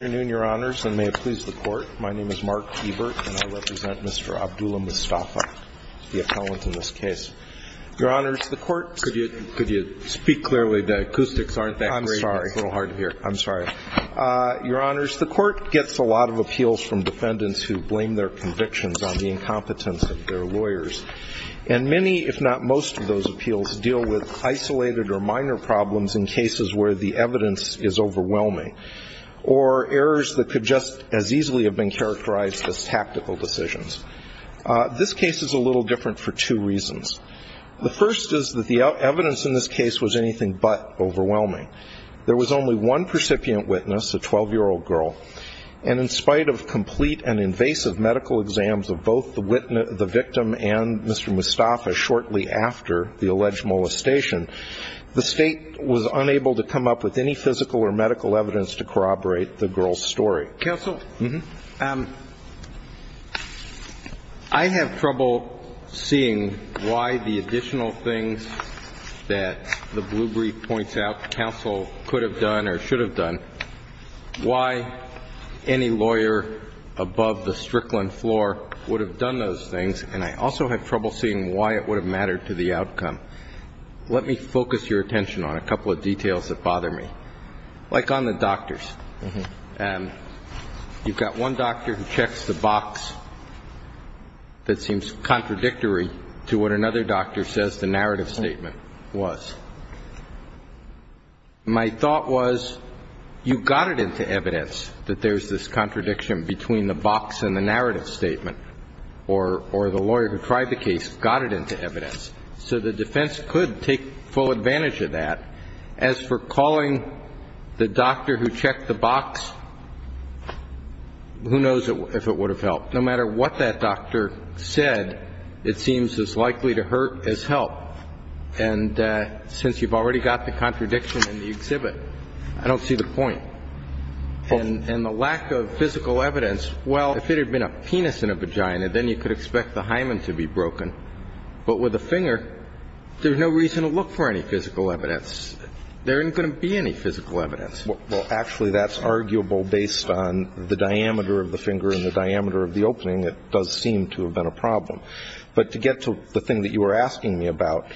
Good afternoon, your honors, and may it please the court. My name is Mark Ebert, and I represent Mr. Abdullah Mustafa, the appellant in this case. Your honors, the court Could you speak clearly? The acoustics aren't that great. It's a little hard to hear. I'm sorry. Your honors, the court gets a lot of appeals from defendants who blame their convictions on the incompetence of their lawyers. And many, if not most, of those appeals deal with isolated or minor problems in cases where the evidence is overwhelming. Or errors that could just as easily have been characterized as tactical decisions. This case is a little different for two reasons. The first is that the evidence in this case was anything but overwhelming. There was only one recipient witness, a 12-year-old girl, and in spite of complete and invasive medical exams of both the victim and Mr. Mustafa shortly after the alleged molestation, the state was unable to come up with any physical or medical evidence to corroborate the girl's story. Counsel, I have trouble seeing why the additional things that the blue brief points out counsel could have done or should have done, why any lawyer above the Strickland floor would have done those things, and I also have trouble seeing why it would have Let me focus your attention on a couple of details that bother me. Like on the doctors. You've got one doctor who checks the box that seems contradictory to what another doctor says the narrative statement was. My thought was you got it into evidence that there's this contradiction between the box and the narrative statement, or the lawyer who tried the case got it into evidence. So the defense could take full advantage of that. As for calling the doctor who checked the box, who knows if it would have helped. No matter what that doctor said, it seems as likely to hurt as help. And since you've already got the contradiction in the exhibit, I don't see the point. And the lack of physical evidence, well, if it had been a penis in a vagina, then you could expect the hymen to be broken. But with a finger, there's no reason to look for any physical evidence. There isn't going to be any physical evidence. Well, actually, that's arguable based on the diameter of the finger and the diameter of the opening. It does seem to have been a problem. But to get to the thing that you were asking me about,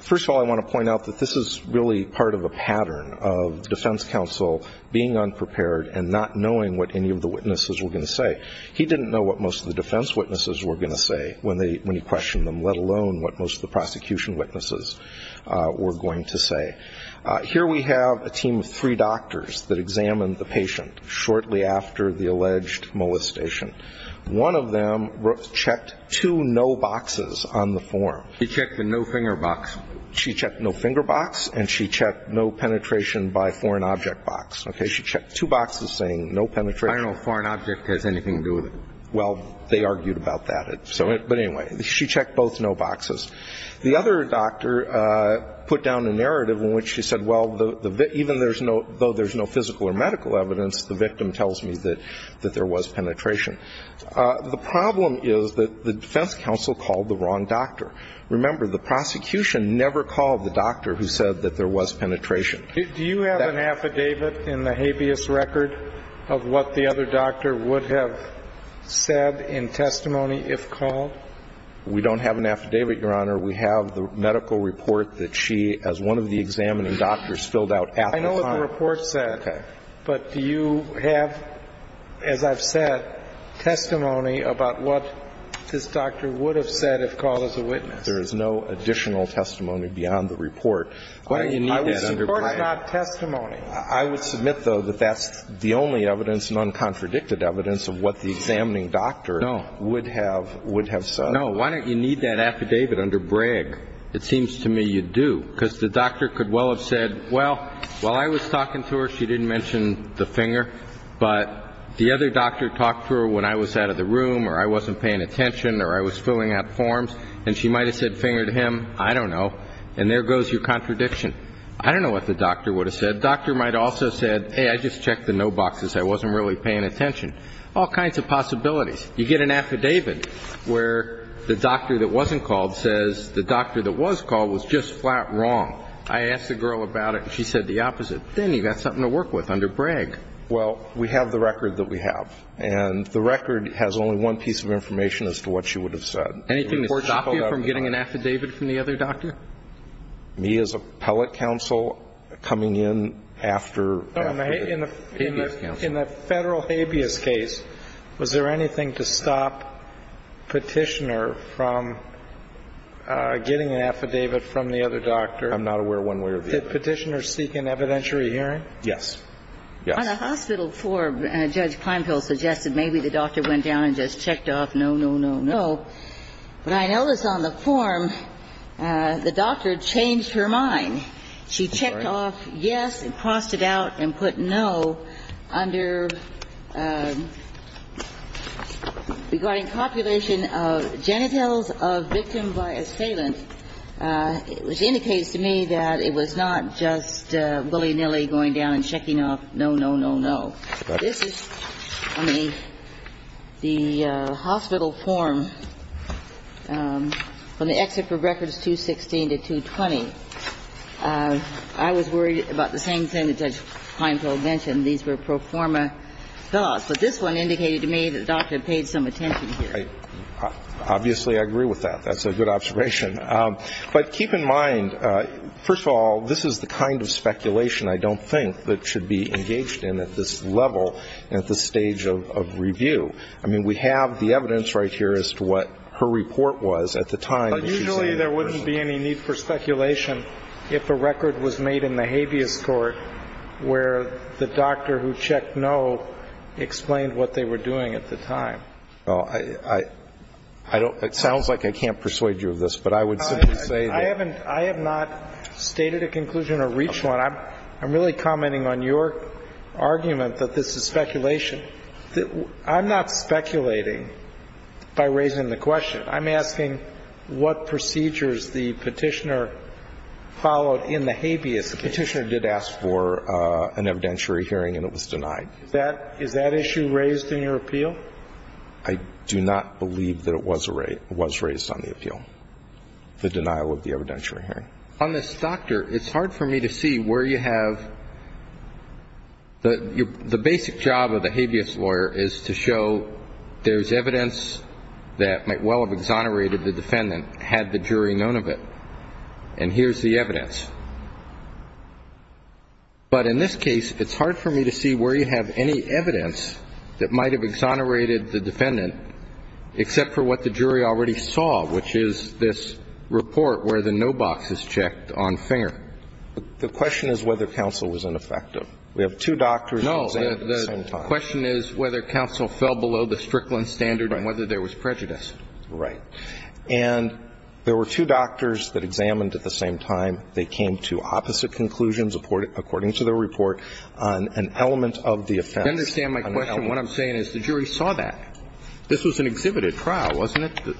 first of all, I want to point out that this is really part of a pattern of defense counsel being unprepared and not knowing what any of the witnesses were going to say. He didn't know what most of the defense witnesses were going to say when he questioned them, let alone what most of the prosecution witnesses were going to say. Here we have a team of three doctors that examined the patient shortly after the alleged molestation. One of them checked two no boxes on the form. He checked the no finger box. She checked no finger box and she checked no penetration by foreign object box. She checked two boxes saying no penetration. I don't know if foreign object has anything to do with it. Well, they argued about that. But anyway, she checked both no boxes. The other doctor put down a narrative in which she said, well, even though there's no physical or medical evidence, the victim tells me that there was penetration. The problem is that the defense counsel called the wrong doctor. Remember, the prosecution never called the doctor who said that there was penetration. Do you have an affidavit in the habeas record of what the other doctor would have said in testimony if called? We don't have an affidavit, Your Honor. We have the medical report that she, as one of the examining doctors, filled out at the time. The medical report said. Okay. But do you have, as I've said, testimony about what this doctor would have said if called as a witness? There is no additional testimony beyond the report. Why don't you need that under Bragg? Of course not testimony. I would submit, though, that that's the only evidence, non-contradicted evidence, of what the examining doctor would have said. Why don't you need that affidavit under Bragg? It seems to me you do, because the doctor could well have said, well, while I was talking to her, she didn't mention the finger, but the other doctor talked to her when I was out of the room or I wasn't paying attention or I was filling out forms, and she might have said finger to him. I don't know. And there goes your contradiction. I don't know what the doctor would have said. The doctor might also have said, hey, I just checked the note boxes. I wasn't really paying attention. All kinds of possibilities. You get an affidavit where the doctor that wasn't called says the doctor that was called was just flat wrong. I asked the girl about it, and she said the opposite. Then you've got something to work with under Bragg. Well, we have the record that we have. And the record has only one piece of information as to what she would have said. Anything to stop you from getting an affidavit from the other doctor? Me as appellate counsel coming in after the habeas counsel. In the federal habeas case, was there anything to stop Petitioner from getting an affidavit from the other doctor? I'm not aware of one way or the other. Did Petitioner seek an evidentiary hearing? Yes. Yes. On a hospital form, Judge Pinehill suggested maybe the doctor went down and just checked off no, no, no, no. When I noticed on the form, the doctor changed her mind. She checked off yes and crossed it out and put no under regarding copulation of genitals of victim by assailant, which indicates to me that it was not just willy-nilly going down and checking off no, no, no, no. This is on the hospital form from the exit for records 216 to 220. I was worried about the same thing that Judge Pinehill mentioned. These were pro forma thoughts. But this one indicated to me that the doctor had paid some attention here. Obviously, I agree with that. That's a good observation. But keep in mind, first of all, this is the kind of speculation I don't think that should be engaged in at this level and at this stage of review. I mean, we have the evidence right here as to what her report was at the time. But usually there wouldn't be any need for speculation if a record was made in the habeas court where the doctor who checked no explained what they were doing at the time. Well, I don't – it sounds like I can't persuade you of this, but I would simply say that – I haven't – I have not stated a conclusion or reached one. I'm really commenting on your argument that this is speculation. I'm not speculating by raising the question. I'm asking what procedures the Petitioner followed in the habeas case. The Petitioner did ask for an evidentiary hearing, and it was denied. Is that issue raised in your appeal? I do not believe that it was raised on the appeal, the denial of the evidentiary hearing. And on this doctor, it's hard for me to see where you have – the basic job of the habeas lawyer is to show there's evidence that might well have exonerated the defendant had the jury known of it. And here's the evidence. But in this case, it's hard for me to see where you have any evidence that might have exonerated the defendant except for what the jury already saw, which is this report where the no box is checked on finger. The question is whether counsel was ineffective. We have two doctors examined at the same time. No. The question is whether counsel fell below the Strickland standard and whether there was prejudice. Right. And there were two doctors that examined at the same time. They came to opposite conclusions according to their report on an element of the offense. Do you understand my question? What I'm saying is the jury saw that. This was an exhibited trial, wasn't it?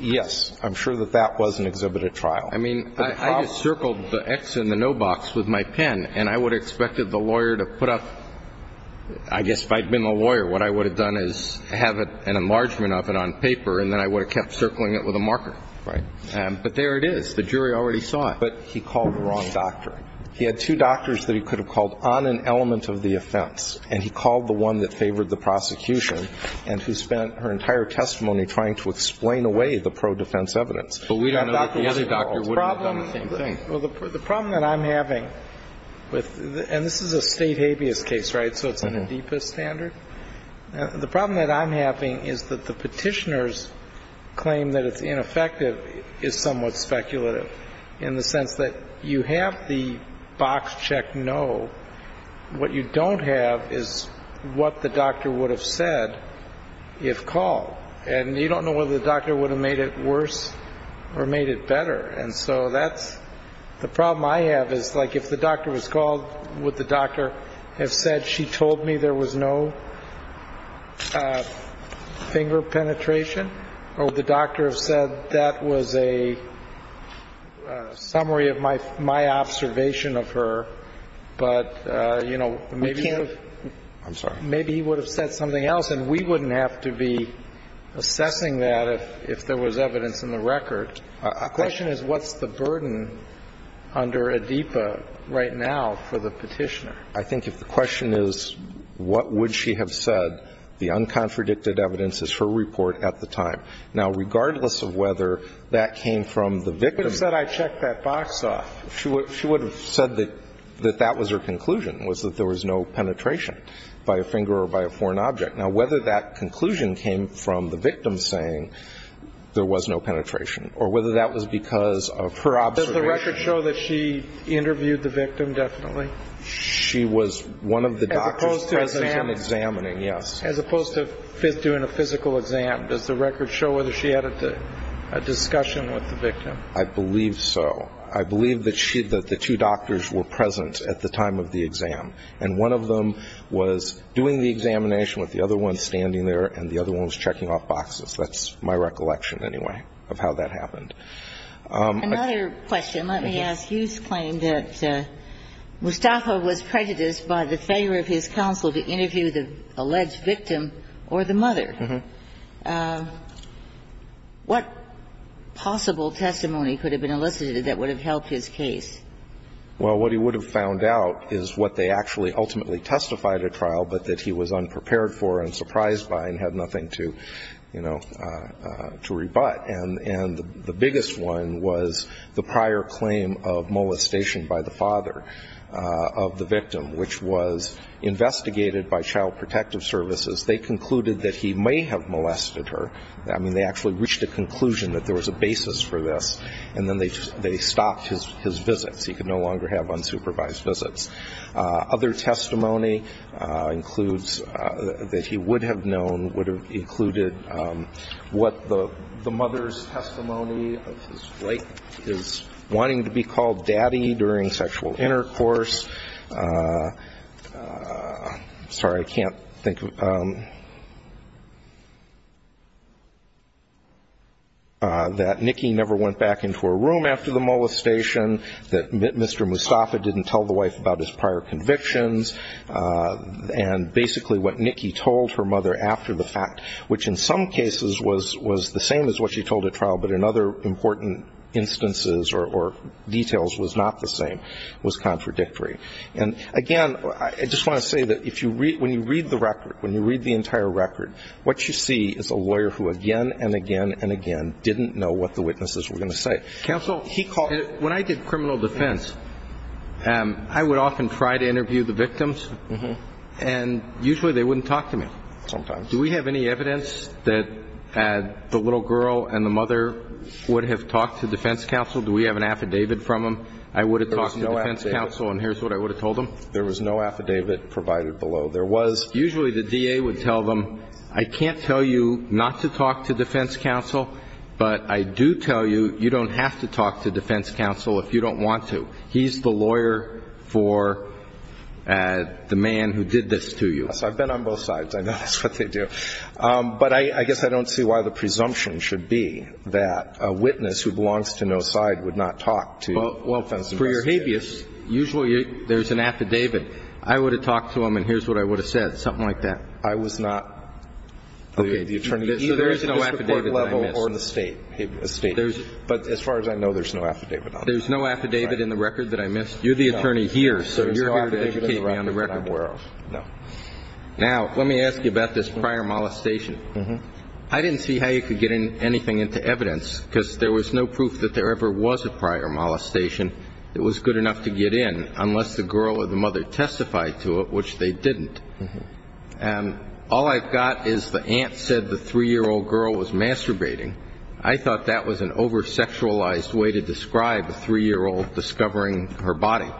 Yes. I'm sure that that was an exhibited trial. I mean, I circled the X in the no box with my pen, and I would have expected the lawyer to put up – I guess if I had been the lawyer, what I would have done is have an enlargement of it on paper, and then I would have kept circling it with a marker. Right. But there it is. The jury already saw it. But he called the wrong doctor. He had two doctors that he could have called on an element of the offense, and he called the one that favored the prosecution and who spent her entire testimony trying to explain away the pro-defense evidence. But we don't know that the other doctor would have done the same thing. Well, the problem that I'm having with – and this is a State habeas case, right, so it's in the deepest standard. The problem that I'm having is that the Petitioner's claim that it's ineffective is somewhat speculative in the sense that you have the box check no. What you don't have is what the doctor would have said if called. And you don't know whether the doctor would have made it worse or made it better. And so that's – the problem I have is, like, if the doctor was called, would the doctor have said she told me there was no finger penetration, or would the doctor have said But that was a summary of my observation of her. But, you know, maybe he would have said something else, and we wouldn't have to be assessing that if there was evidence in the record. The question is, what's the burden under ADIPA right now for the Petitioner? I think if the question is, what would she have said, the uncontradicted evidence is her report at the time. Now, regardless of whether that came from the victim. She would have said I checked that box off. She would have said that that was her conclusion, was that there was no penetration by a finger or by a foreign object. Now, whether that conclusion came from the victim saying there was no penetration or whether that was because of her observation. Does the record show that she interviewed the victim, definitely? She was one of the doctors present and examining, yes. As opposed to doing a physical exam, does the record show whether she had a discussion with the victim? I believe so. I believe that the two doctors were present at the time of the exam. And one of them was doing the examination with the other one standing there, and the other one was checking off boxes. That's my recollection, anyway, of how that happened. Another question. Let me ask. Hughes claimed that Mustafa was prejudiced by the failure of his counsel to interview the alleged victim or the mother. Mm-hmm. What possible testimony could have been elicited that would have helped his case? Well, what he would have found out is what they actually ultimately testified at trial, but that he was unprepared for and surprised by and had nothing to, you know, to rebut. And the biggest one was the prior claim of molestation by the father of the victim, which was investigated by Child Protective Services. They concluded that he may have molested her. I mean, they actually reached a conclusion that there was a basis for this, and then they stopped his visits. He could no longer have unsupervised visits. Other testimony includes that he would have known would have included what the mother's testimony of his wife, his wanting to be called daddy during sexual intercourse. Sorry, I can't think. That Nikki never went back into her room after the molestation. That Mr. Mustafa didn't tell the wife about his prior convictions. And basically what Nikki told her mother after the fact, which in some cases was the same as what she told at trial, but in other important instances or details was not the same, was contradictory. And, again, I just want to say that when you read the record, when you read the entire record, what you see is a lawyer who again and again and again didn't know what the witnesses were going to say. Counsel, when I did criminal defense, I would often try to interview the victims, and usually they wouldn't talk to me. Sometimes. Do we have any evidence that the little girl and the mother would have talked to defense counsel? Do we have an affidavit from them? I would have talked to defense counsel, and here's what I would have told them. There was no affidavit provided below. Usually the DA would tell them, I can't tell you not to talk to defense counsel, but I do tell you you don't have to talk to defense counsel if you don't want to. He's the lawyer for the man who did this to you. So I've been on both sides. I know that's what they do. But I guess I don't see why the presumption should be that a witness who belongs to no side would not talk to defense counsel. Well, for your habeas, usually there's an affidavit. I would have talked to them, and here's what I would have said, something like that. I was not. Okay. So there is no affidavit that I missed. But as far as I know, there's no affidavit on it. There's no affidavit in the record that I missed. You're the attorney here, so you're here to educate me on the record. I'm aware of. Now, let me ask you about this prior molestation. I didn't see how you could get anything into evidence because there was no proof that there ever was a prior molestation that was good enough to get in unless the girl or the mother testified to it, which they didn't. All I've got is the aunt said the 3-year-old girl was masturbating. I thought that was an over-sexualized way to describe a 3-year-old discovering her body.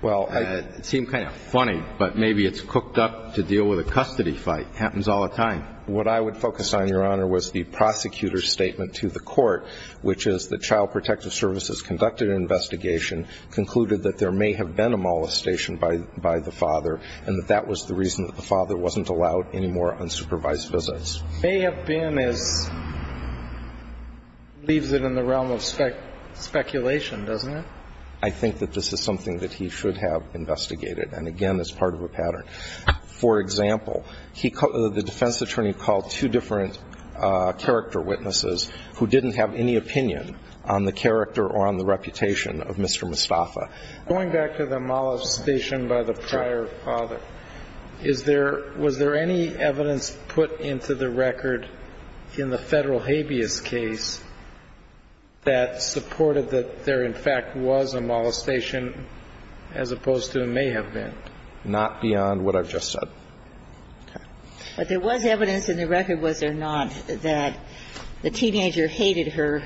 Well, it seemed kind of funny, but maybe it's cooked up to deal with a custody fight. It happens all the time. What I would focus on, Your Honor, was the prosecutor's statement to the court, which is that Child Protective Services conducted an investigation, concluded that there may have been a molestation by the father, and that that was the reason that the father wasn't allowed any more unsupervised visits. May have been is leaves it in the realm of speculation, doesn't it? I think that this is something that he should have investigated. And, again, it's part of a pattern. For example, the defense attorney called two different character witnesses who didn't have any opinion on the character or on the reputation of Mr. Mustafa. Going back to the molestation by the prior father, is there – was there any evidence put into the record in the Federal habeas case that supported that there in fact was a molestation as opposed to may have been? Not beyond what I've just said. Okay. But there was evidence in the record, was there not, that the teenager hated her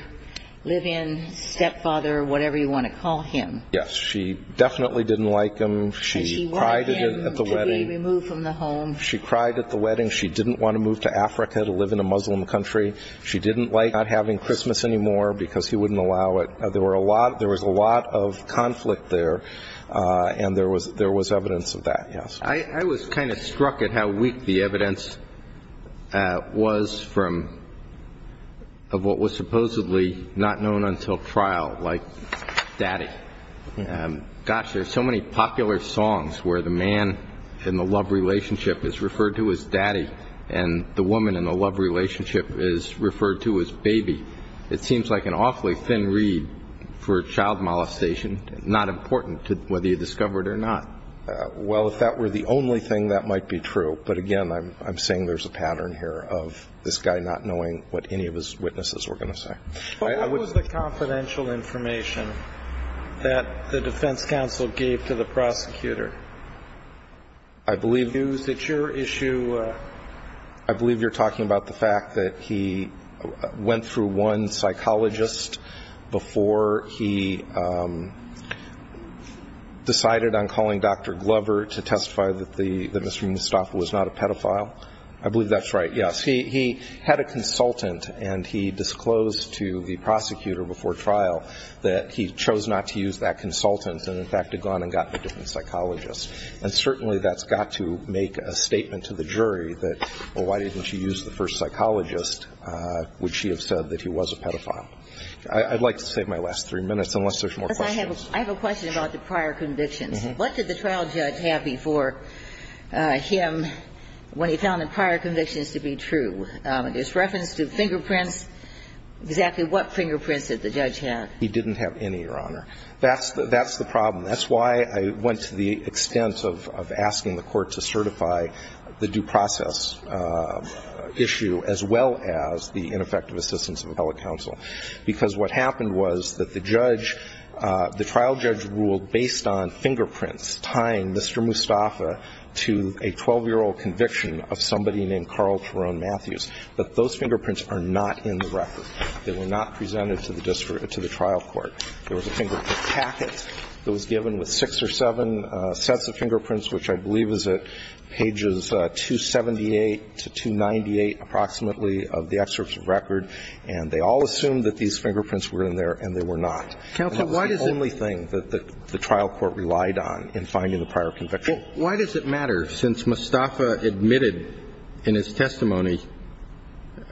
live-in stepfather, whatever you want to call him. Yes. She definitely didn't like him. She wanted him to be removed from the home. She cried at the wedding. She didn't want to move to Africa to live in a Muslim country. She didn't like not having Christmas anymore because he wouldn't allow it. There was a lot of conflict there, and there was evidence of that, yes. I was kind of struck at how weak the evidence was from what was supposedly not known until trial, like daddy. Gosh, there are so many popular songs where the man in the love relationship is referred to as daddy and the woman in the love relationship is referred to as baby. It seems like an awfully thin reed for child molestation, not important whether you discover it or not. Well, if that were the only thing, that might be true. But, again, I'm saying there's a pattern here of this guy not knowing what any of his witnesses were going to say. What was the confidential information that the defense counsel gave to the prosecutor? I believe you're talking about the fact that he went through one psychologist before he decided on calling Dr. Glover to testify that Mr. Mustafa was not a pedophile. I believe that's right, yes. He had a consultant, and he disclosed to the prosecutor before trial that he chose not to use that consultant and, in fact, had gone and gotten a different psychologist. And certainly that's got to make a statement to the jury that, well, why didn't you use the first psychologist? Would she have said that he was a pedophile? I'd like to save my last three minutes unless there's more questions. I have a question about the prior convictions. What did the trial judge have before him when he found the prior convictions to be true? There's reference to fingerprints. Exactly what fingerprints did the judge have? He didn't have any, Your Honor. That's the problem. That's why I went to the extent of asking the Court to certify the due process issue as well as the ineffective assistance of appellate counsel, because what happened was that the judge, the trial judge ruled based on fingerprints tying Mr. Mustafa to a 12-year-old conviction of somebody named Carl Terone Matthews. But those fingerprints are not in the record. They were not presented to the trial court. There was a fingerprint packet that was given with six or seven sets of fingerprints, which I believe is at pages 278 to 298, approximately, of the excerpt of record. And they all assumed that these fingerprints were in there, and they were not. Counsel, why does it – And that was the only thing that the trial court relied on in finding the prior conviction. Well, why does it matter since Mustafa admitted in his testimony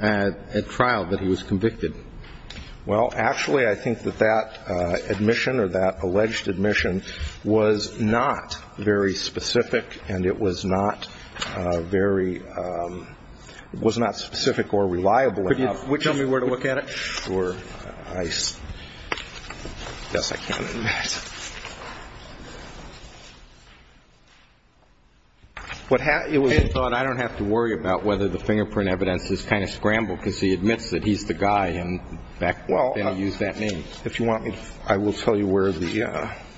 at trial that he was convicted? Well, actually, I think that that admission or that alleged admission was not very specific, and it was not very – it was not specific or reliable enough. Could you tell me where to look at it? Sure. I guess I can't. It was thought I don't have to worry about whether the fingerprint evidence is kind of scrambled because he admits that he's the guy and back then used that name. If you want, I will tell you where the –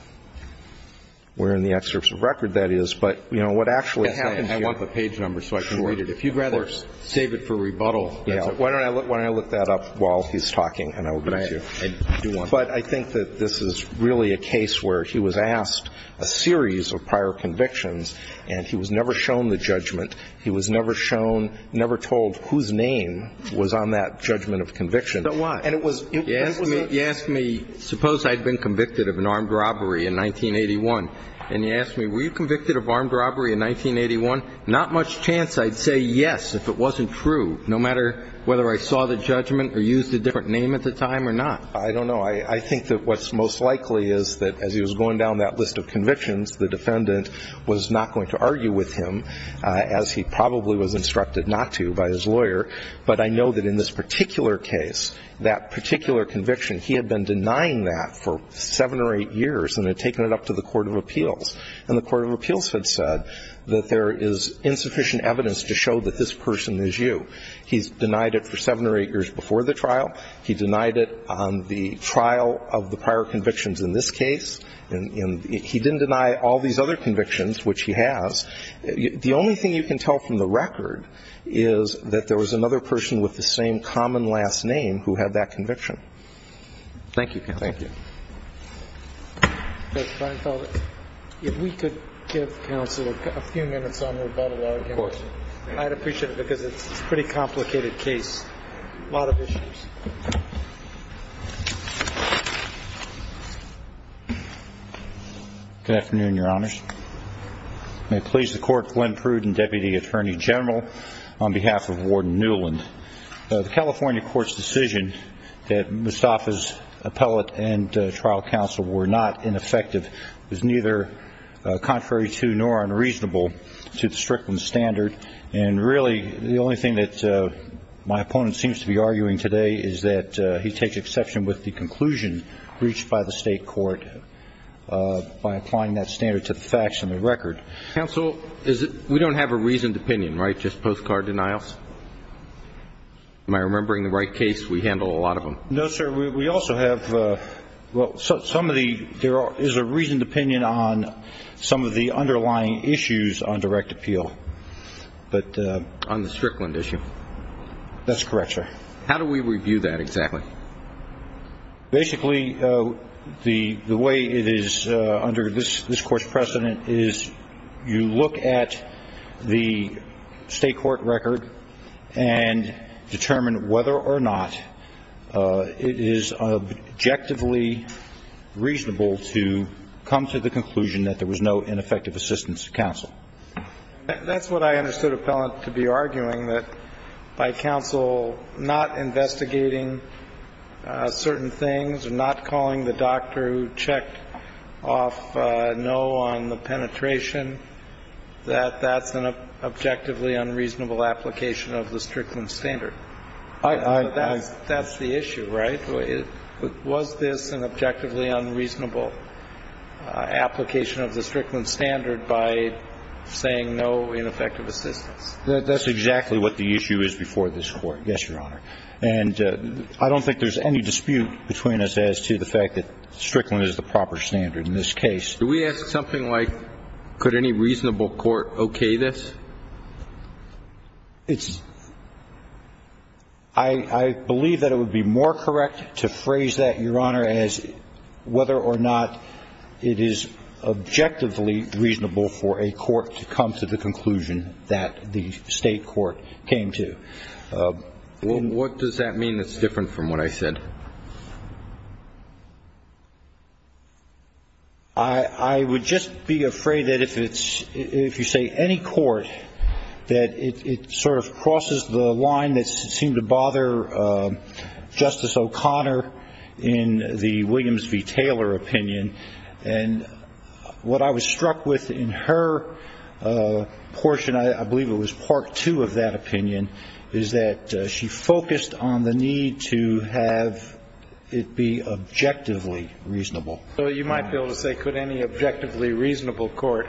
where in the excerpts of record that is. But, you know, what actually happened here – I want the page number so I can read it. If you'd rather save it for rebuttal, that's okay. Why don't I look – why don't I look that up while he's talking, and I will get it to you. All right. I do want to. But I think that this is really a case where he was asked a series of prior convictions, and he was never shown the judgment. He was never shown – never told whose name was on that judgment of conviction. So why? And it was – You asked me – you asked me, suppose I'd been convicted of an armed robbery in 1981, and you asked me, were you convicted of armed robbery in 1981? Not much chance I'd say yes if it wasn't true, no matter whether I saw the judgment or used a different name at the time or not. I don't know. I think that what's most likely is that as he was going down that list of convictions, the defendant was not going to argue with him, as he probably was instructed not to by his lawyer. But I know that in this particular case, that particular conviction, he had been denying that for seven or eight years and had taken it up to the Court of Appeals. And the Court of Appeals had said that there is insufficient evidence to show that this person is you. He's denied it for seven or eight years before the trial. He denied it on the trial of the prior convictions in this case. And he didn't deny all these other convictions, which he has. The only thing you can tell from the record is that there was another person with the same common last name who had that conviction. Thank you, counsel. Thank you. Judge Feinfeld, if we could give counsel a few minutes on the rebuttal argument. Of course. I'd appreciate it because it's a pretty complicated case, a lot of issues. Good afternoon, Your Honors. May it please the Court, Glenn Pruden, Deputy Attorney General, on behalf of Warden Newland. The California court's decision that Mustafa's appellate and trial counsel were not ineffective is neither contrary to nor unreasonable to the Strickland standard. And really the only thing that my opponent seems to be arguing today is that he takes exception with the conclusion reached by the state court by applying that standard to the facts and the record. Counsel, we don't have a reasoned opinion, right, just postcard denials? Am I remembering the right case? We handle a lot of them. No, sir. We also have some of the – there is a reasoned opinion on some of the underlying issues on direct appeal. On the Strickland issue. That's correct, sir. How do we review that exactly? Basically, the way it is under this Court's precedent is you look at the state court record and determine whether or not it is objectively reasonable to come to the conclusion that there was no ineffective assistance to counsel. That's what I understood appellant to be arguing, that by counsel not investigating certain things and not calling the doctor who checked off no on the penetration, that that's an objectively unreasonable application of the Strickland standard. That's the issue, right? So was this an objectively unreasonable application of the Strickland standard by saying no ineffective assistance? That's exactly what the issue is before this Court, yes, Your Honor. And I don't think there's any dispute between us as to the fact that Strickland is the proper standard in this case. Can we ask something like, could any reasonable court okay this? I believe that it would be more correct to phrase that, Your Honor, as whether or not it is objectively reasonable for a court to come to the conclusion that the state court came to. What does that mean that's different from what I said? I would just be afraid that if you say any court, that it sort of crosses the line that seemed to bother Justice O'Connor in the Williams v. Taylor opinion. And what I was struck with in her portion, I believe it was Part 2 of that opinion, is that she focused on the need to have it be objectively reasonable. So you might be able to say, could any objectively reasonable court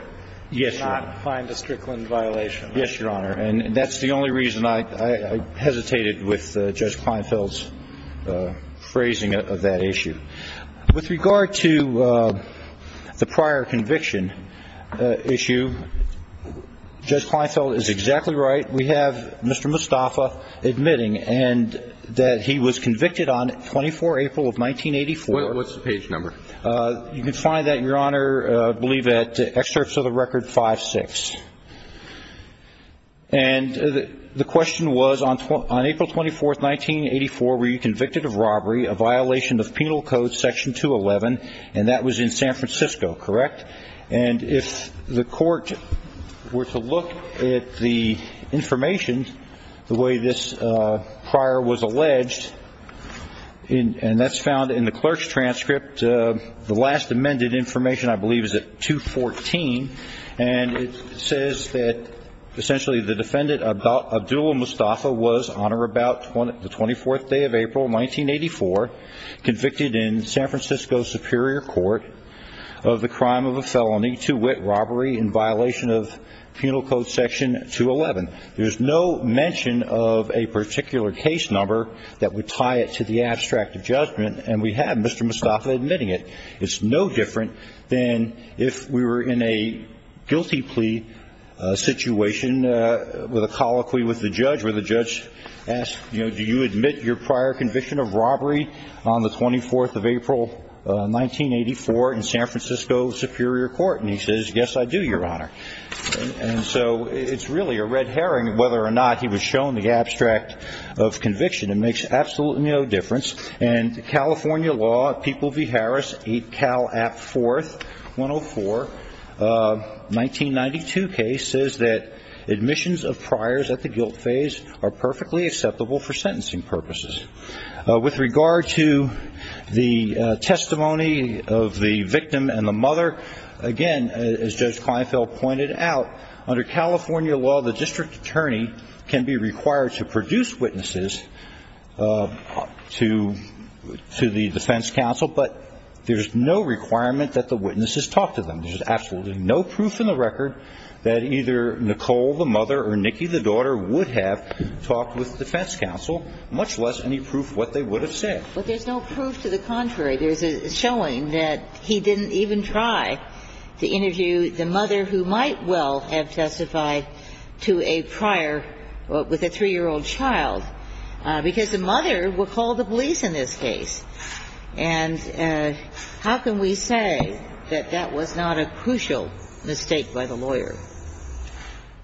not find a Strickland violation? Yes, Your Honor. And that's the only reason I hesitated with Judge Kleinfeld's phrasing of that issue. With regard to the prior conviction issue, Judge Kleinfeld is exactly right. We have Mr. Mustafa admitting that he was convicted on 24 April of 1984. What's the page number? You can find that, Your Honor, I believe at Excerpts of the Record 5-6. And the question was, on April 24, 1984, were you convicted of robbery, a violation of Penal Code Section 211? And that was in San Francisco, correct? And if the court were to look at the information, the way this prior was alleged, and that's found in the clerk's transcript, the last amended information, I believe, is at 214, and it says that essentially the defendant, Abdul Mustafa, was on or about the 24th day of April, 1984, convicted in San Francisco Superior Court of the crime of a felony to wit, robbery in violation of Penal Code Section 211. There's no mention of a particular case number that would tie it to the abstract of judgment, and we have Mr. Mustafa admitting it. It's no different than if we were in a guilty plea situation with a colloquy with the judge, where the judge asks, you know, do you admit your prior conviction of robbery on the 24th of April, 1984, in San Francisco Superior Court? And he says, yes, I do, Your Honor. And so it's really a red herring whether or not he was shown the abstract of conviction. It makes absolutely no difference. And California law, People v. Harris, 8 Cal App 4th, 104, 1992 case, says that admissions of priors at the guilt phase are perfectly acceptable for sentencing purposes. With regard to the testimony of the victim and the mother, again, as Judge Kleinfeld pointed out, under California law, the district attorney can be required to produce witnesses to the defense counsel, but there's no requirement that the witnesses talk to them. There's absolutely no proof in the record that either Nicole, the mother, or Nikki, the daughter, would have talked with the defense counsel, much less any proof what they would have said. But there's no proof to the contrary. There's a showing that he didn't even try to interview the mother, who might well have testified to a prior with a 3-year-old child, because the mother will call the police in this case. And how can we say that that was not a crucial mistake by the lawyer?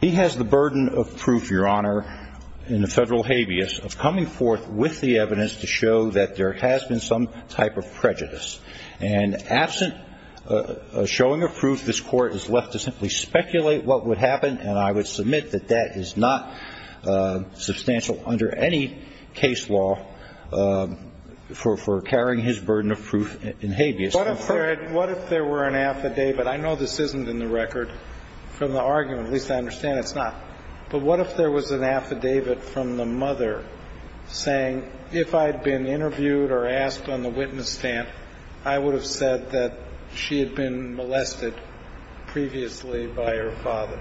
He has the burden of proof, Your Honor, in the federal habeas, of coming forth with the evidence to show that there has been some type of prejudice. And absent a showing of proof, this Court is left to simply speculate what would happen, and I would submit that that is not substantial under any case law for carrying his burden of proof in habeas. What if there were an affidavit? I know this isn't in the record from the argument, at least I understand it's not. But what if there was an affidavit from the mother saying, if I had been interviewed or asked on the witness stand, I would have said that she had been molested previously by her father?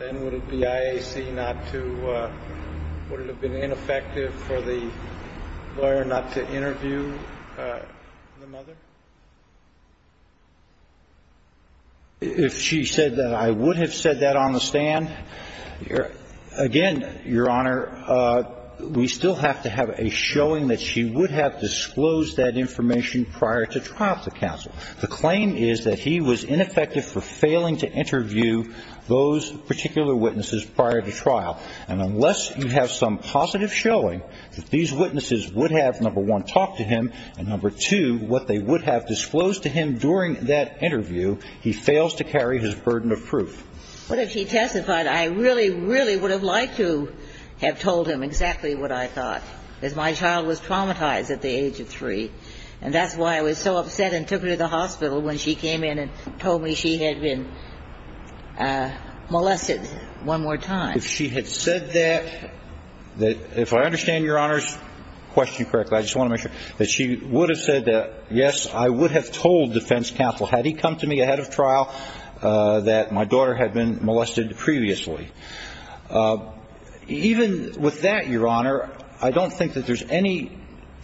Then would it be IAC not to – would it have been ineffective for the lawyer not to interview the mother? If she said that I would have said that on the stand, again, Your Honor, we still have to have a showing that she would have disclosed that information prior to trial to counsel. The claim is that he was ineffective for failing to interview those particular witnesses prior to trial. And unless you have some positive showing that these witnesses would have, number one, talked to him, and number two, what they would have disclosed to him during that interview, he fails to carry his burden of proof. But if he testified, I really, really would have liked to have told him exactly what I thought, because my child was traumatized at the age of three. And that's why I was so upset and took her to the hospital when she came in and told me she had been molested one more time. If she had said that, if I understand Your Honor's question correctly, I just want to make sure, that she would have said that, yes, I would have told defense counsel, had he come to me ahead of trial, that my daughter had been molested previously. Even with that, Your Honor, I don't think that there's any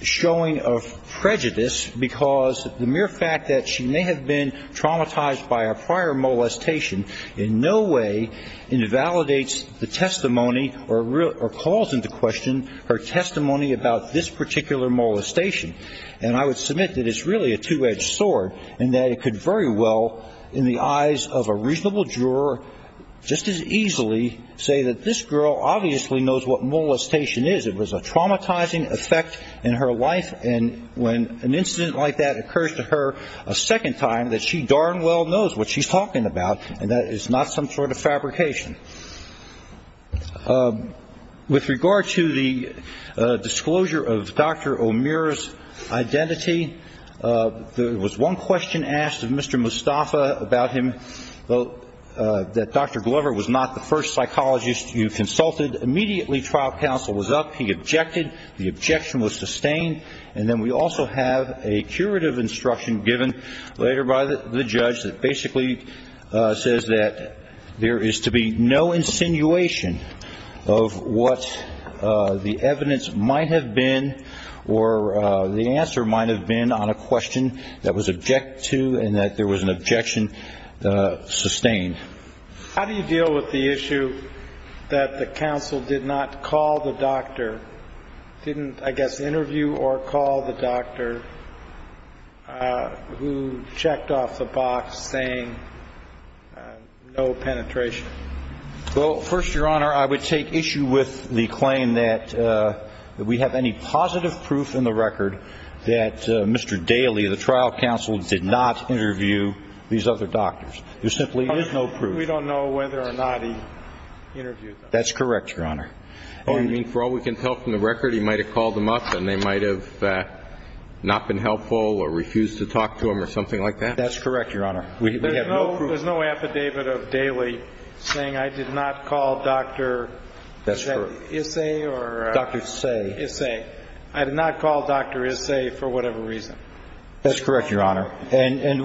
showing of prejudice, because the mere fact that she may have been traumatized by a prior molestation in no way invalidates the testimony or calls into question her testimony about this particular molestation. And I would submit that it's really a two-edged sword, and that it could very well, in the eyes of a reasonable juror, just as easily say that this girl obviously knows what molestation is. It was a traumatizing effect in her life, and when an incident like that occurs to her a second time, that she darn well knows what she's talking about, and that it's not some sort of fabrication. With regard to the disclosure of Dr. O'Meara's identity, there was one question asked of Mr. Mustafa about him, that Dr. Glover was not the first psychologist you consulted. Immediately trial counsel was up. He objected. The objection was sustained. And then we also have a curative instruction given later by the judge that basically says that there is to be no insinuation of what the evidence might have been or the answer might have been on a question that was objected to and that there was an objection sustained. How do you deal with the issue that the counsel did not call the doctor, didn't, I guess, interview or call the doctor who checked off the box saying no penetration? Well, first, Your Honor, I would take issue with the claim that we have any positive proof in the record that Mr. Daley, the trial counsel, did not interview these other doctors. There simply is no proof. We don't know whether or not he interviewed them. That's correct, Your Honor. I mean, for all we can tell from the record, he might have called them up and they might have not been helpful or refused to talk to him or something like that? That's correct, Your Honor. We have no proof. There's no affidavit of Daley saying I did not call Dr. Isay or Dr. Isay. I did not call Dr. Isay for whatever reason. That's correct, Your Honor. And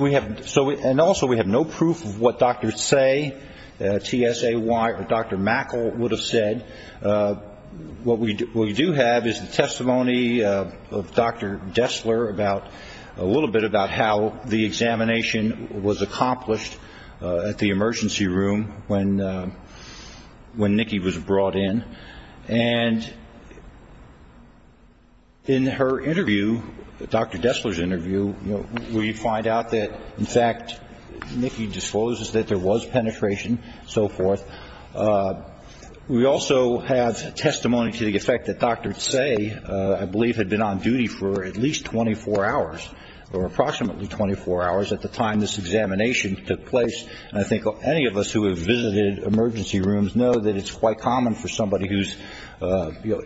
also we have no proof of what Dr. Say, TSAY, or Dr. Mackle would have said. What we do have is the testimony of Dr. Destler about a little bit about how the examination was accomplished at the emergency room when Nikki was brought in. And in her interview, Dr. Destler's interview, we find out that, in fact, Nikki discloses that there was penetration and so forth. We also have testimony to the effect that Dr. Say, I believe, had been on duty for at least 24 hours or approximately 24 hours at the time this examination took place. And I think any of us who have visited emergency rooms know that it's quite common for somebody who's, you know,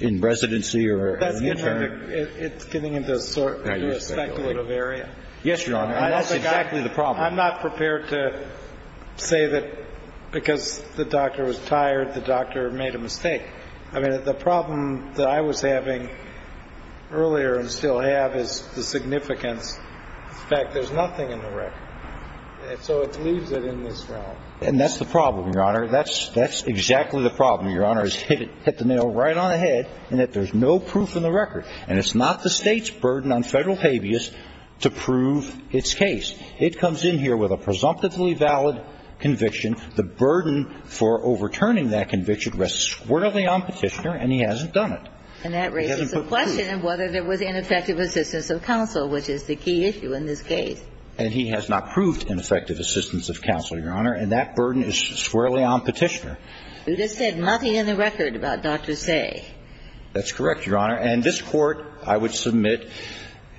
in residency or an intern. It's getting into a speculative area. Yes, Your Honor. And that's exactly the problem. I'm not prepared to say that because the doctor was tired, the doctor made a mistake. I mean, the problem that I was having earlier and still have is the significance. In fact, there's nothing in the record. So it leaves it in this realm. And that's the problem, Your Honor. That's exactly the problem, Your Honor, is hit the nail right on the head in that there's no proof in the record. And it's not the State's burden on Federal habeas to prove its case. It comes in here with a presumptively valid conviction. The burden for overturning that conviction rests squarely on Petitioner, and he hasn't done it. And that raises the question of whether there was ineffective assistance of counsel, which is the key issue in this case. And he has not proved ineffective assistance of counsel, Your Honor. And that burden is squarely on Petitioner. You just said nothing in the record about Dr. Seay. That's correct, Your Honor. And this Court, I would submit,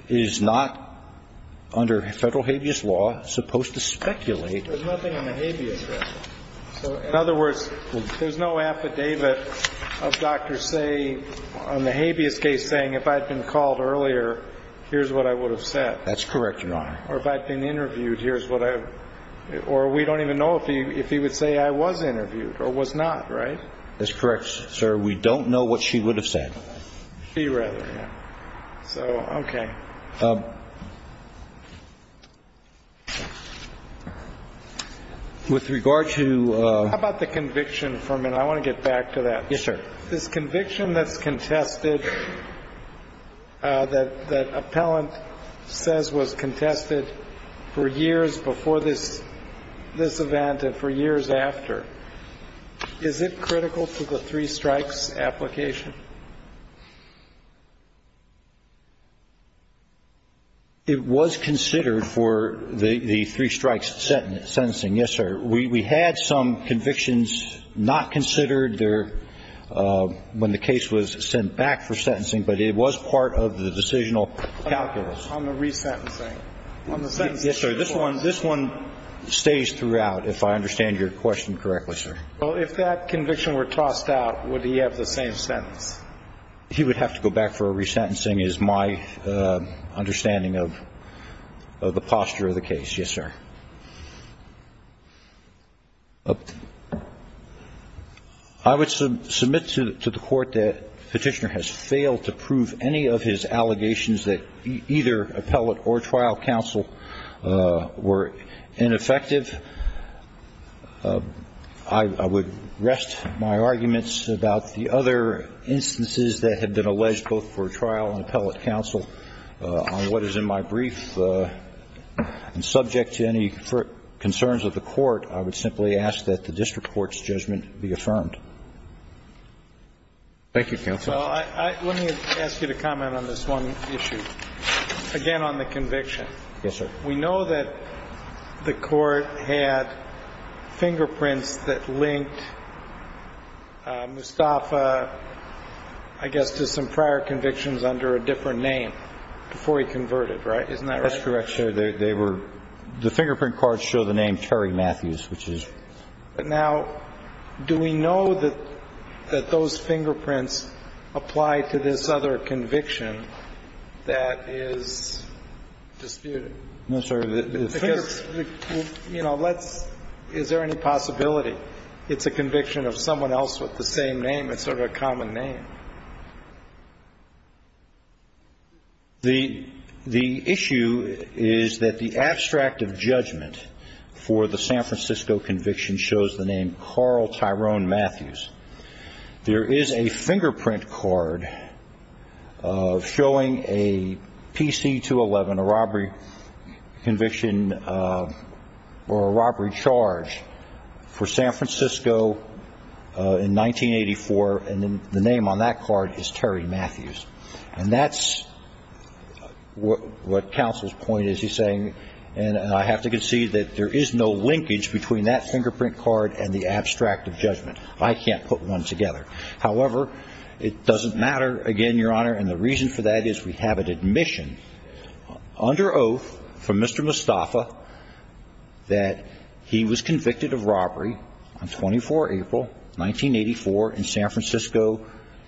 is not under Federal habeas law supposed to speculate. There's nothing on the habeas record. In other words, there's no affidavit of Dr. Seay on the habeas case saying if I'd been called earlier, here's what I would have said. That's correct, Your Honor. Or if I'd been interviewed, here's what I would have said. Or we don't even know if he would say I was interviewed or was not, right? That's correct, sir. We don't know what she would have said. She rather, yeah. So, okay. With regard to – I want to get back to that. Yes, sir. This conviction that's contested, that appellant says was contested for years before this event and for years after, is it critical to the three strikes application? It was considered for the three strikes sentencing, yes, sir. We had some convictions not considered when the case was sent back for sentencing, but it was part of the decisional calculus. On the resentencing. Yes, sir. This one stays throughout, if I understand your question correctly, sir. Well, if that conviction were tossed out, would he have the same sentence? He would have to go back for a resentencing is my understanding of the posture of the case, yes, sir. I would submit to the court that Petitioner has failed to prove any of his allegations that either appellate or trial counsel were ineffective. I would rest my arguments about the other instances that have been alleged both for trial and appellate counsel on what is in my brief, and subject to any concerns of the court, I would simply ask that the district court's judgment be affirmed. Thank you, counsel. Let me ask you to comment on this one issue. Again, on the conviction. Yes, sir. We know that the court had fingerprints that linked Mustafa, I guess, to some prior convictions under a different name before he converted, right? Isn't that right? That's correct, sir. They were the fingerprint cards show the name Terry Matthews, which is. Now, do we know that those fingerprints apply to this other conviction that is disputed? No, sir. You know, let's. Is there any possibility it's a conviction of someone else with the same name? It's sort of a common name. The issue is that the abstract of judgment for the San Francisco conviction shows the name Carl Tyrone Matthews. There is a fingerprint card showing a PC-211, a robbery conviction or a robbery charge for San Francisco in 1984, and the name on that card is Terry Matthews. And that's what counsel's point is. He's saying, and I have to concede that there is no linkage between that fingerprint card and the abstract of judgment. I can't put one together. However, it doesn't matter again, Your Honor, and the reason for that is we have an admission under oath from Mr. Mustafa that he was convicted of robbery on 24 April 1984 in San Francisco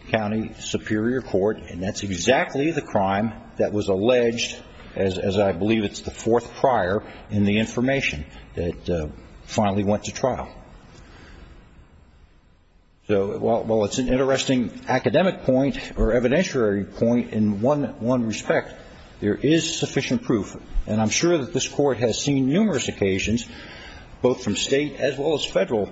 County Superior Court, and that's exactly the crime that was alleged as I believe it's the fourth prior in the information that finally went to trial. So while it's an interesting academic point or evidentiary point in one respect, there is sufficient proof, and I'm sure that this Court has seen numerous occasions both from state as well as federal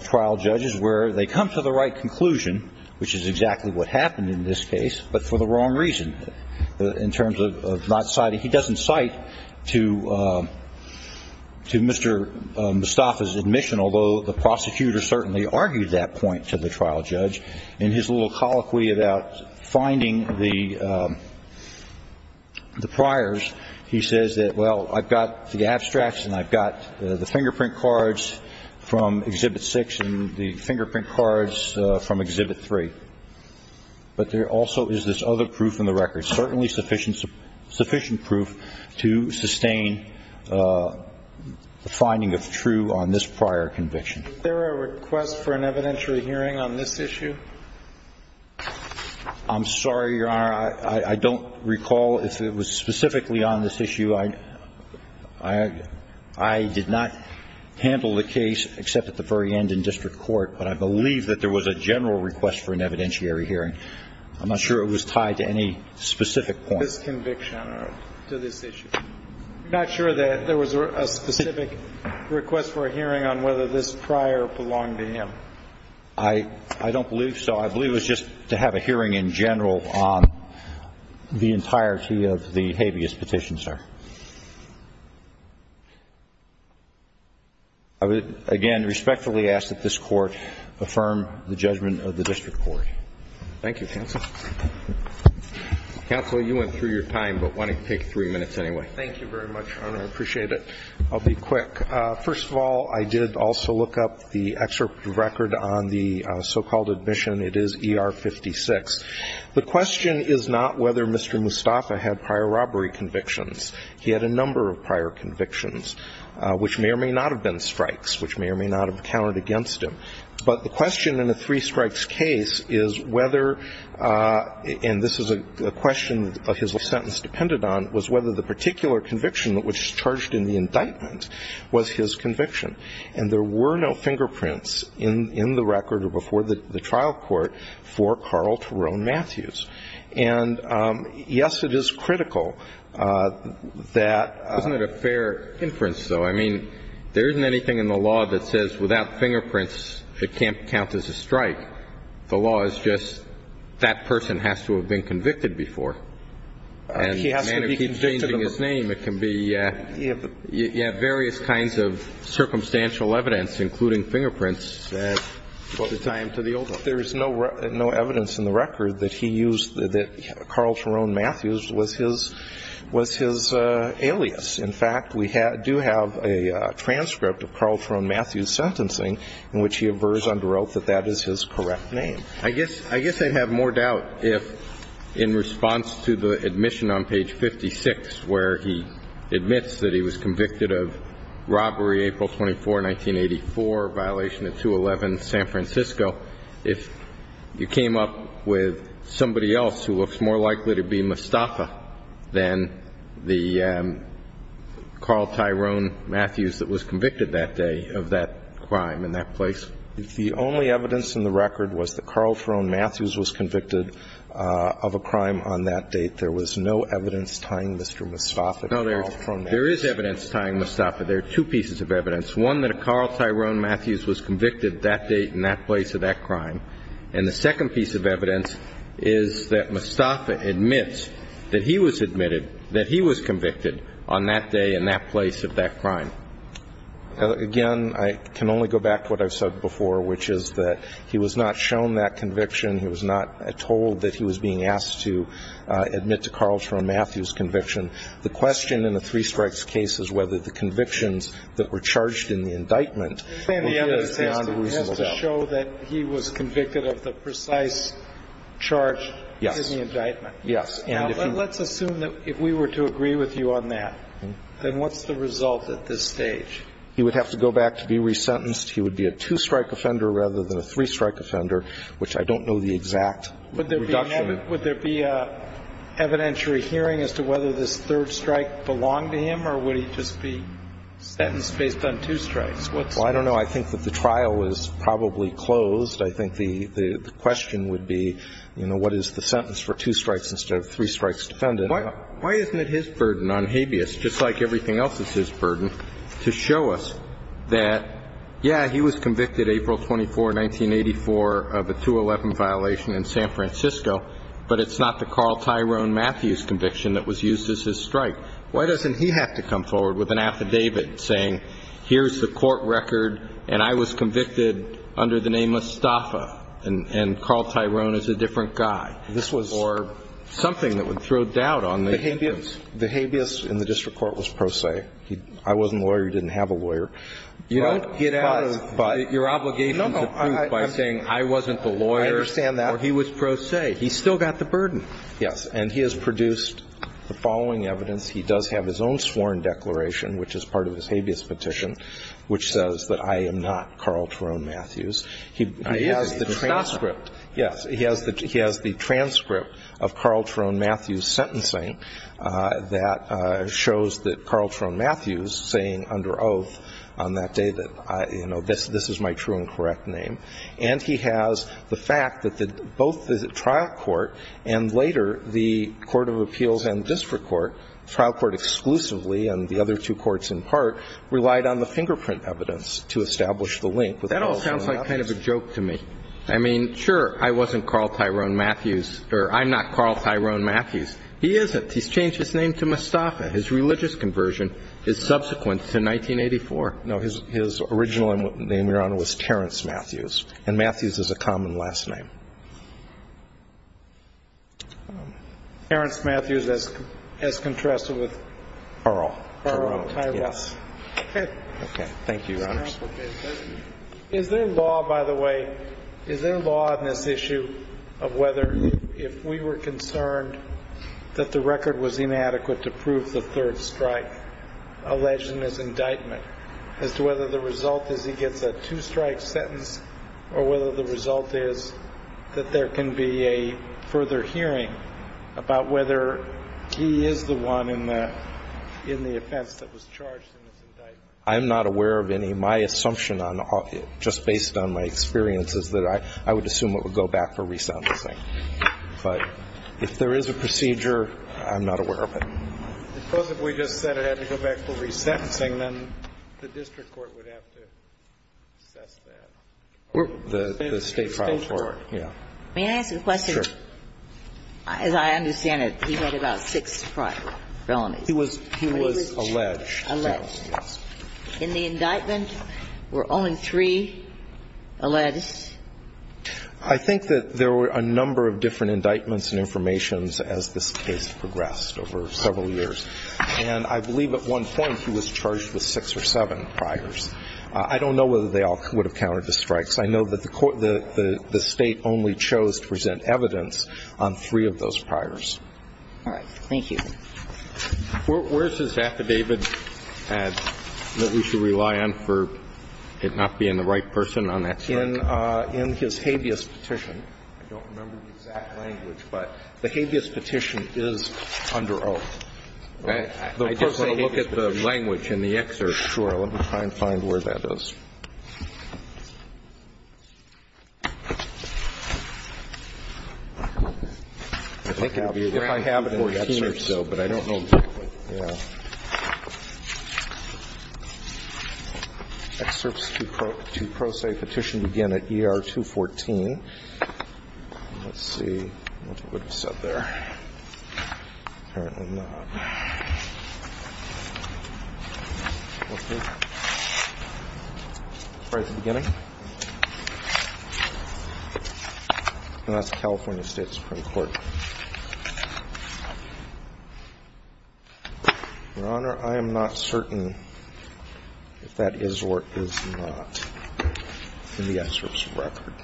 trial judges where they come to the right conclusion, which is exactly what happened in this case, but for the wrong reason. In terms of not citing, he doesn't cite to Mr. Mustafa's admission, although the prosecutor certainly argued that point to the trial judge in his little colloquy about finding the priors. He says that, well, I've got the abstracts and I've got the fingerprint cards from Exhibit 6 and the fingerprint cards from Exhibit 3. But there also is this other proof in the record, certainly sufficient proof to sustain the finding of true on this prior conviction. Is there a request for an evidentiary hearing on this issue? I'm sorry, Your Honor. I don't recall if it was specifically on this issue. I did not handle the case except at the very end in district court, but I believe that there was a general request for an evidentiary hearing. I'm not sure it was tied to any specific point. This conviction or to this issue. I'm not sure that there was a specific request for a hearing on whether this prior belonged to him. I don't believe so. I believe it was just to have a hearing in general on the entirety of the habeas petition, sir. I would, again, respectfully ask that this Court affirm the judgment of the district court. Thank you, counsel. Counsel, you went through your time, but why don't you take three minutes anyway? Thank you very much, Your Honor. I appreciate it. I'll be quick. First of all, I did also look up the excerpt record on the so-called admission. It is ER 56. The question is not whether Mr. Mustafa had prior robbery convictions. He had a number of prior convictions, which may or may not have been strikes, which may or may not have counted against him. But the question in a three strikes case is whether, and this is a question his sentence depended on, was whether the particular conviction that was charged in the indictment was his conviction. And there were no fingerprints in the record or before the trial court for Carl Terone Matthews. And, yes, it is critical that ---- Isn't it a fair inference, though? I mean, there isn't anything in the law that says without fingerprints, it can't count as a strike. The law is just that person has to have been convicted before. And if he's changing his name, it can be ---- You have various kinds of circumstantial evidence, including fingerprints. There is no evidence in the record that he used, that Carl Terone Matthews was his alias. In fact, we do have a transcript of Carl Terone Matthews' sentencing in which he averse under oath that that is his correct name. I guess I'd have more doubt if, in response to the admission on page 56, where he admits that he was convicted of robbery April 24, 1984, violation of 211 San Francisco, if you came up with somebody else who looks more likely to be Mustafa than the Carl Terone Matthews that was convicted that day of that crime in that place. The only evidence in the record was that Carl Terone Matthews was convicted of a crime on that date. There was no evidence tying Mr. Mustafa to Carl Terone Matthews. No, there is evidence tying Mustafa. There are two pieces of evidence. One, that a Carl Terone Matthews was convicted that date in that place of that crime. And the second piece of evidence is that Mustafa admits that he was admitted that he was convicted on that day in that place of that crime. Again, I can only go back to what I've said before, which is that he was not shown that conviction. He was not told that he was being asked to admit to Carl Terone Matthews' conviction. The question in the three strikes case is whether the convictions that were charged in the indictment were found reasonable. It has to show that he was convicted of the precise charge in the indictment. Yes. Let's assume that if we were to agree with you on that, then what's the result at this stage? He would have to go back to be resentenced. He would be a two-strike offender rather than a three-strike offender, which I don't know the exact reduction. Would there be an evidentiary hearing as to whether this third strike belonged to him or would he just be sentenced based on two strikes? Well, I don't know. I think that the trial is probably closed. I think the question would be, you know, what is the sentence for two strikes instead of three strikes defendant? Why isn't it his burden on habeas, just like everything else is his burden, to show us that, yeah, he was convicted April 24, 1984 of a 2-11 violation in San Francisco, but it's not the Carl Terone Matthews conviction that was used as his strike. Why doesn't he have to come forward with an affidavit saying, here's the court record, and I was convicted under the name Mustafa, and Carl Terone is a different guy, or something that would throw doubt on the evidence? The habeas in the district court was pro se. I wasn't a lawyer. He didn't have a lawyer. You don't get out of your obligation to prove by saying, I wasn't the lawyer. I understand that. Or he was pro se. He still got the burden. Yes. And he has produced the following evidence. He does have his own sworn declaration, which is part of his habeas petition, which says that I am not Carl Terone Matthews. He has the transcript. Yes. He has the transcript of Carl Terone Matthews' sentencing that shows that Carl Terone Matthews, saying under oath on that day that, you know, this is my true and correct name, and he has the fact that both the trial court and later the court of appeals and district court, trial court exclusively and the other two courts in part, relied on the fingerprint evidence to establish the link with Carl Terone Matthews. That all sounds like kind of a joke to me. I mean, sure, I wasn't Carl Terone Matthews, or I'm not Carl Terone Matthews. He isn't. He's changed his name to Mustafa. His religious conversion is subsequent to 1984. No. His original name, Your Honor, was Terence Matthews, and Matthews is a common last name. Terence Matthews, as contrasted with... Terrell. Terrell. Terrell. Yes. Okay. Thank you, Your Honor. Is there law, by the way, is there law in this issue of whether, if we were concerned that the record was inadequate to prove the third strike, alleged in this indictment, as to whether the result is he gets a two-strike sentence or whether the result is he gets a two-strike sentence, that there can be a further hearing about whether he is the one in the offense that was charged in this indictment? I'm not aware of any. My assumption, just based on my experience, is that I would assume it would go back for resentencing. But if there is a procedure, I'm not aware of it. Suppose if we just said it had to go back for resentencing, then the district court would have to assess that. The state trial court. Yeah. May I ask a question? Sure. As I understand it, he had about six prior felonies. He was alleged. Alleged. Yes. In the indictment, were only three alleged? I think that there were a number of different indictments and informations as this case progressed over several years. And I believe at one point he was charged with six or seven priors. I don't know whether they all would have countered the strikes. I know that the state only chose to present evidence on three of those priors. All right. Thank you. Where is his affidavit that we should rely on for it not being the right person on that case? In his habeas petition. I don't remember the exact language, but the habeas petition is under oath. I just want to look at the language in the excerpt. Let me try and find where that is. If I have it in 14 or so, but I don't know exactly. Yeah. Excerpts to pro se petition begin at ER 214. Let's see what it would have said there. Apparently not. Let's see. Right at the beginning. And that's California State Supreme Court. Your Honor, I am not certain if that is or is not in the excerpt's record.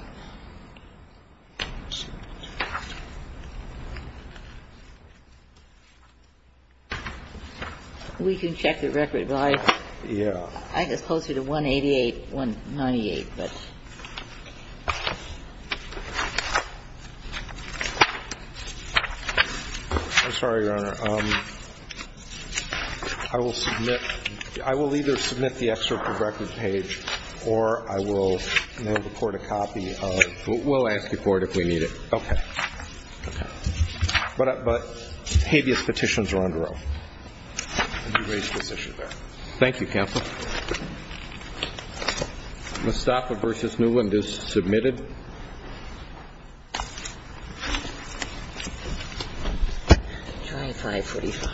We can check the record, but I just posted a 188, 198, but. I'm sorry, Your Honor. Your Honor, I will submit, I will either submit the excerpt of the record page, or I will report a copy. We'll ask the court if we need it. Okay. Okay. But habeas petitions are under oath. Thank you, counsel. Mostafa v. Newland is submitted. Try 545.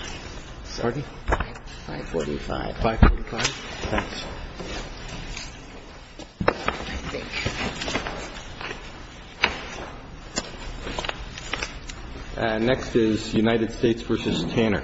Sorry? 545. 545. Thanks. Next is United States v. Tanner. Thank you, counsel.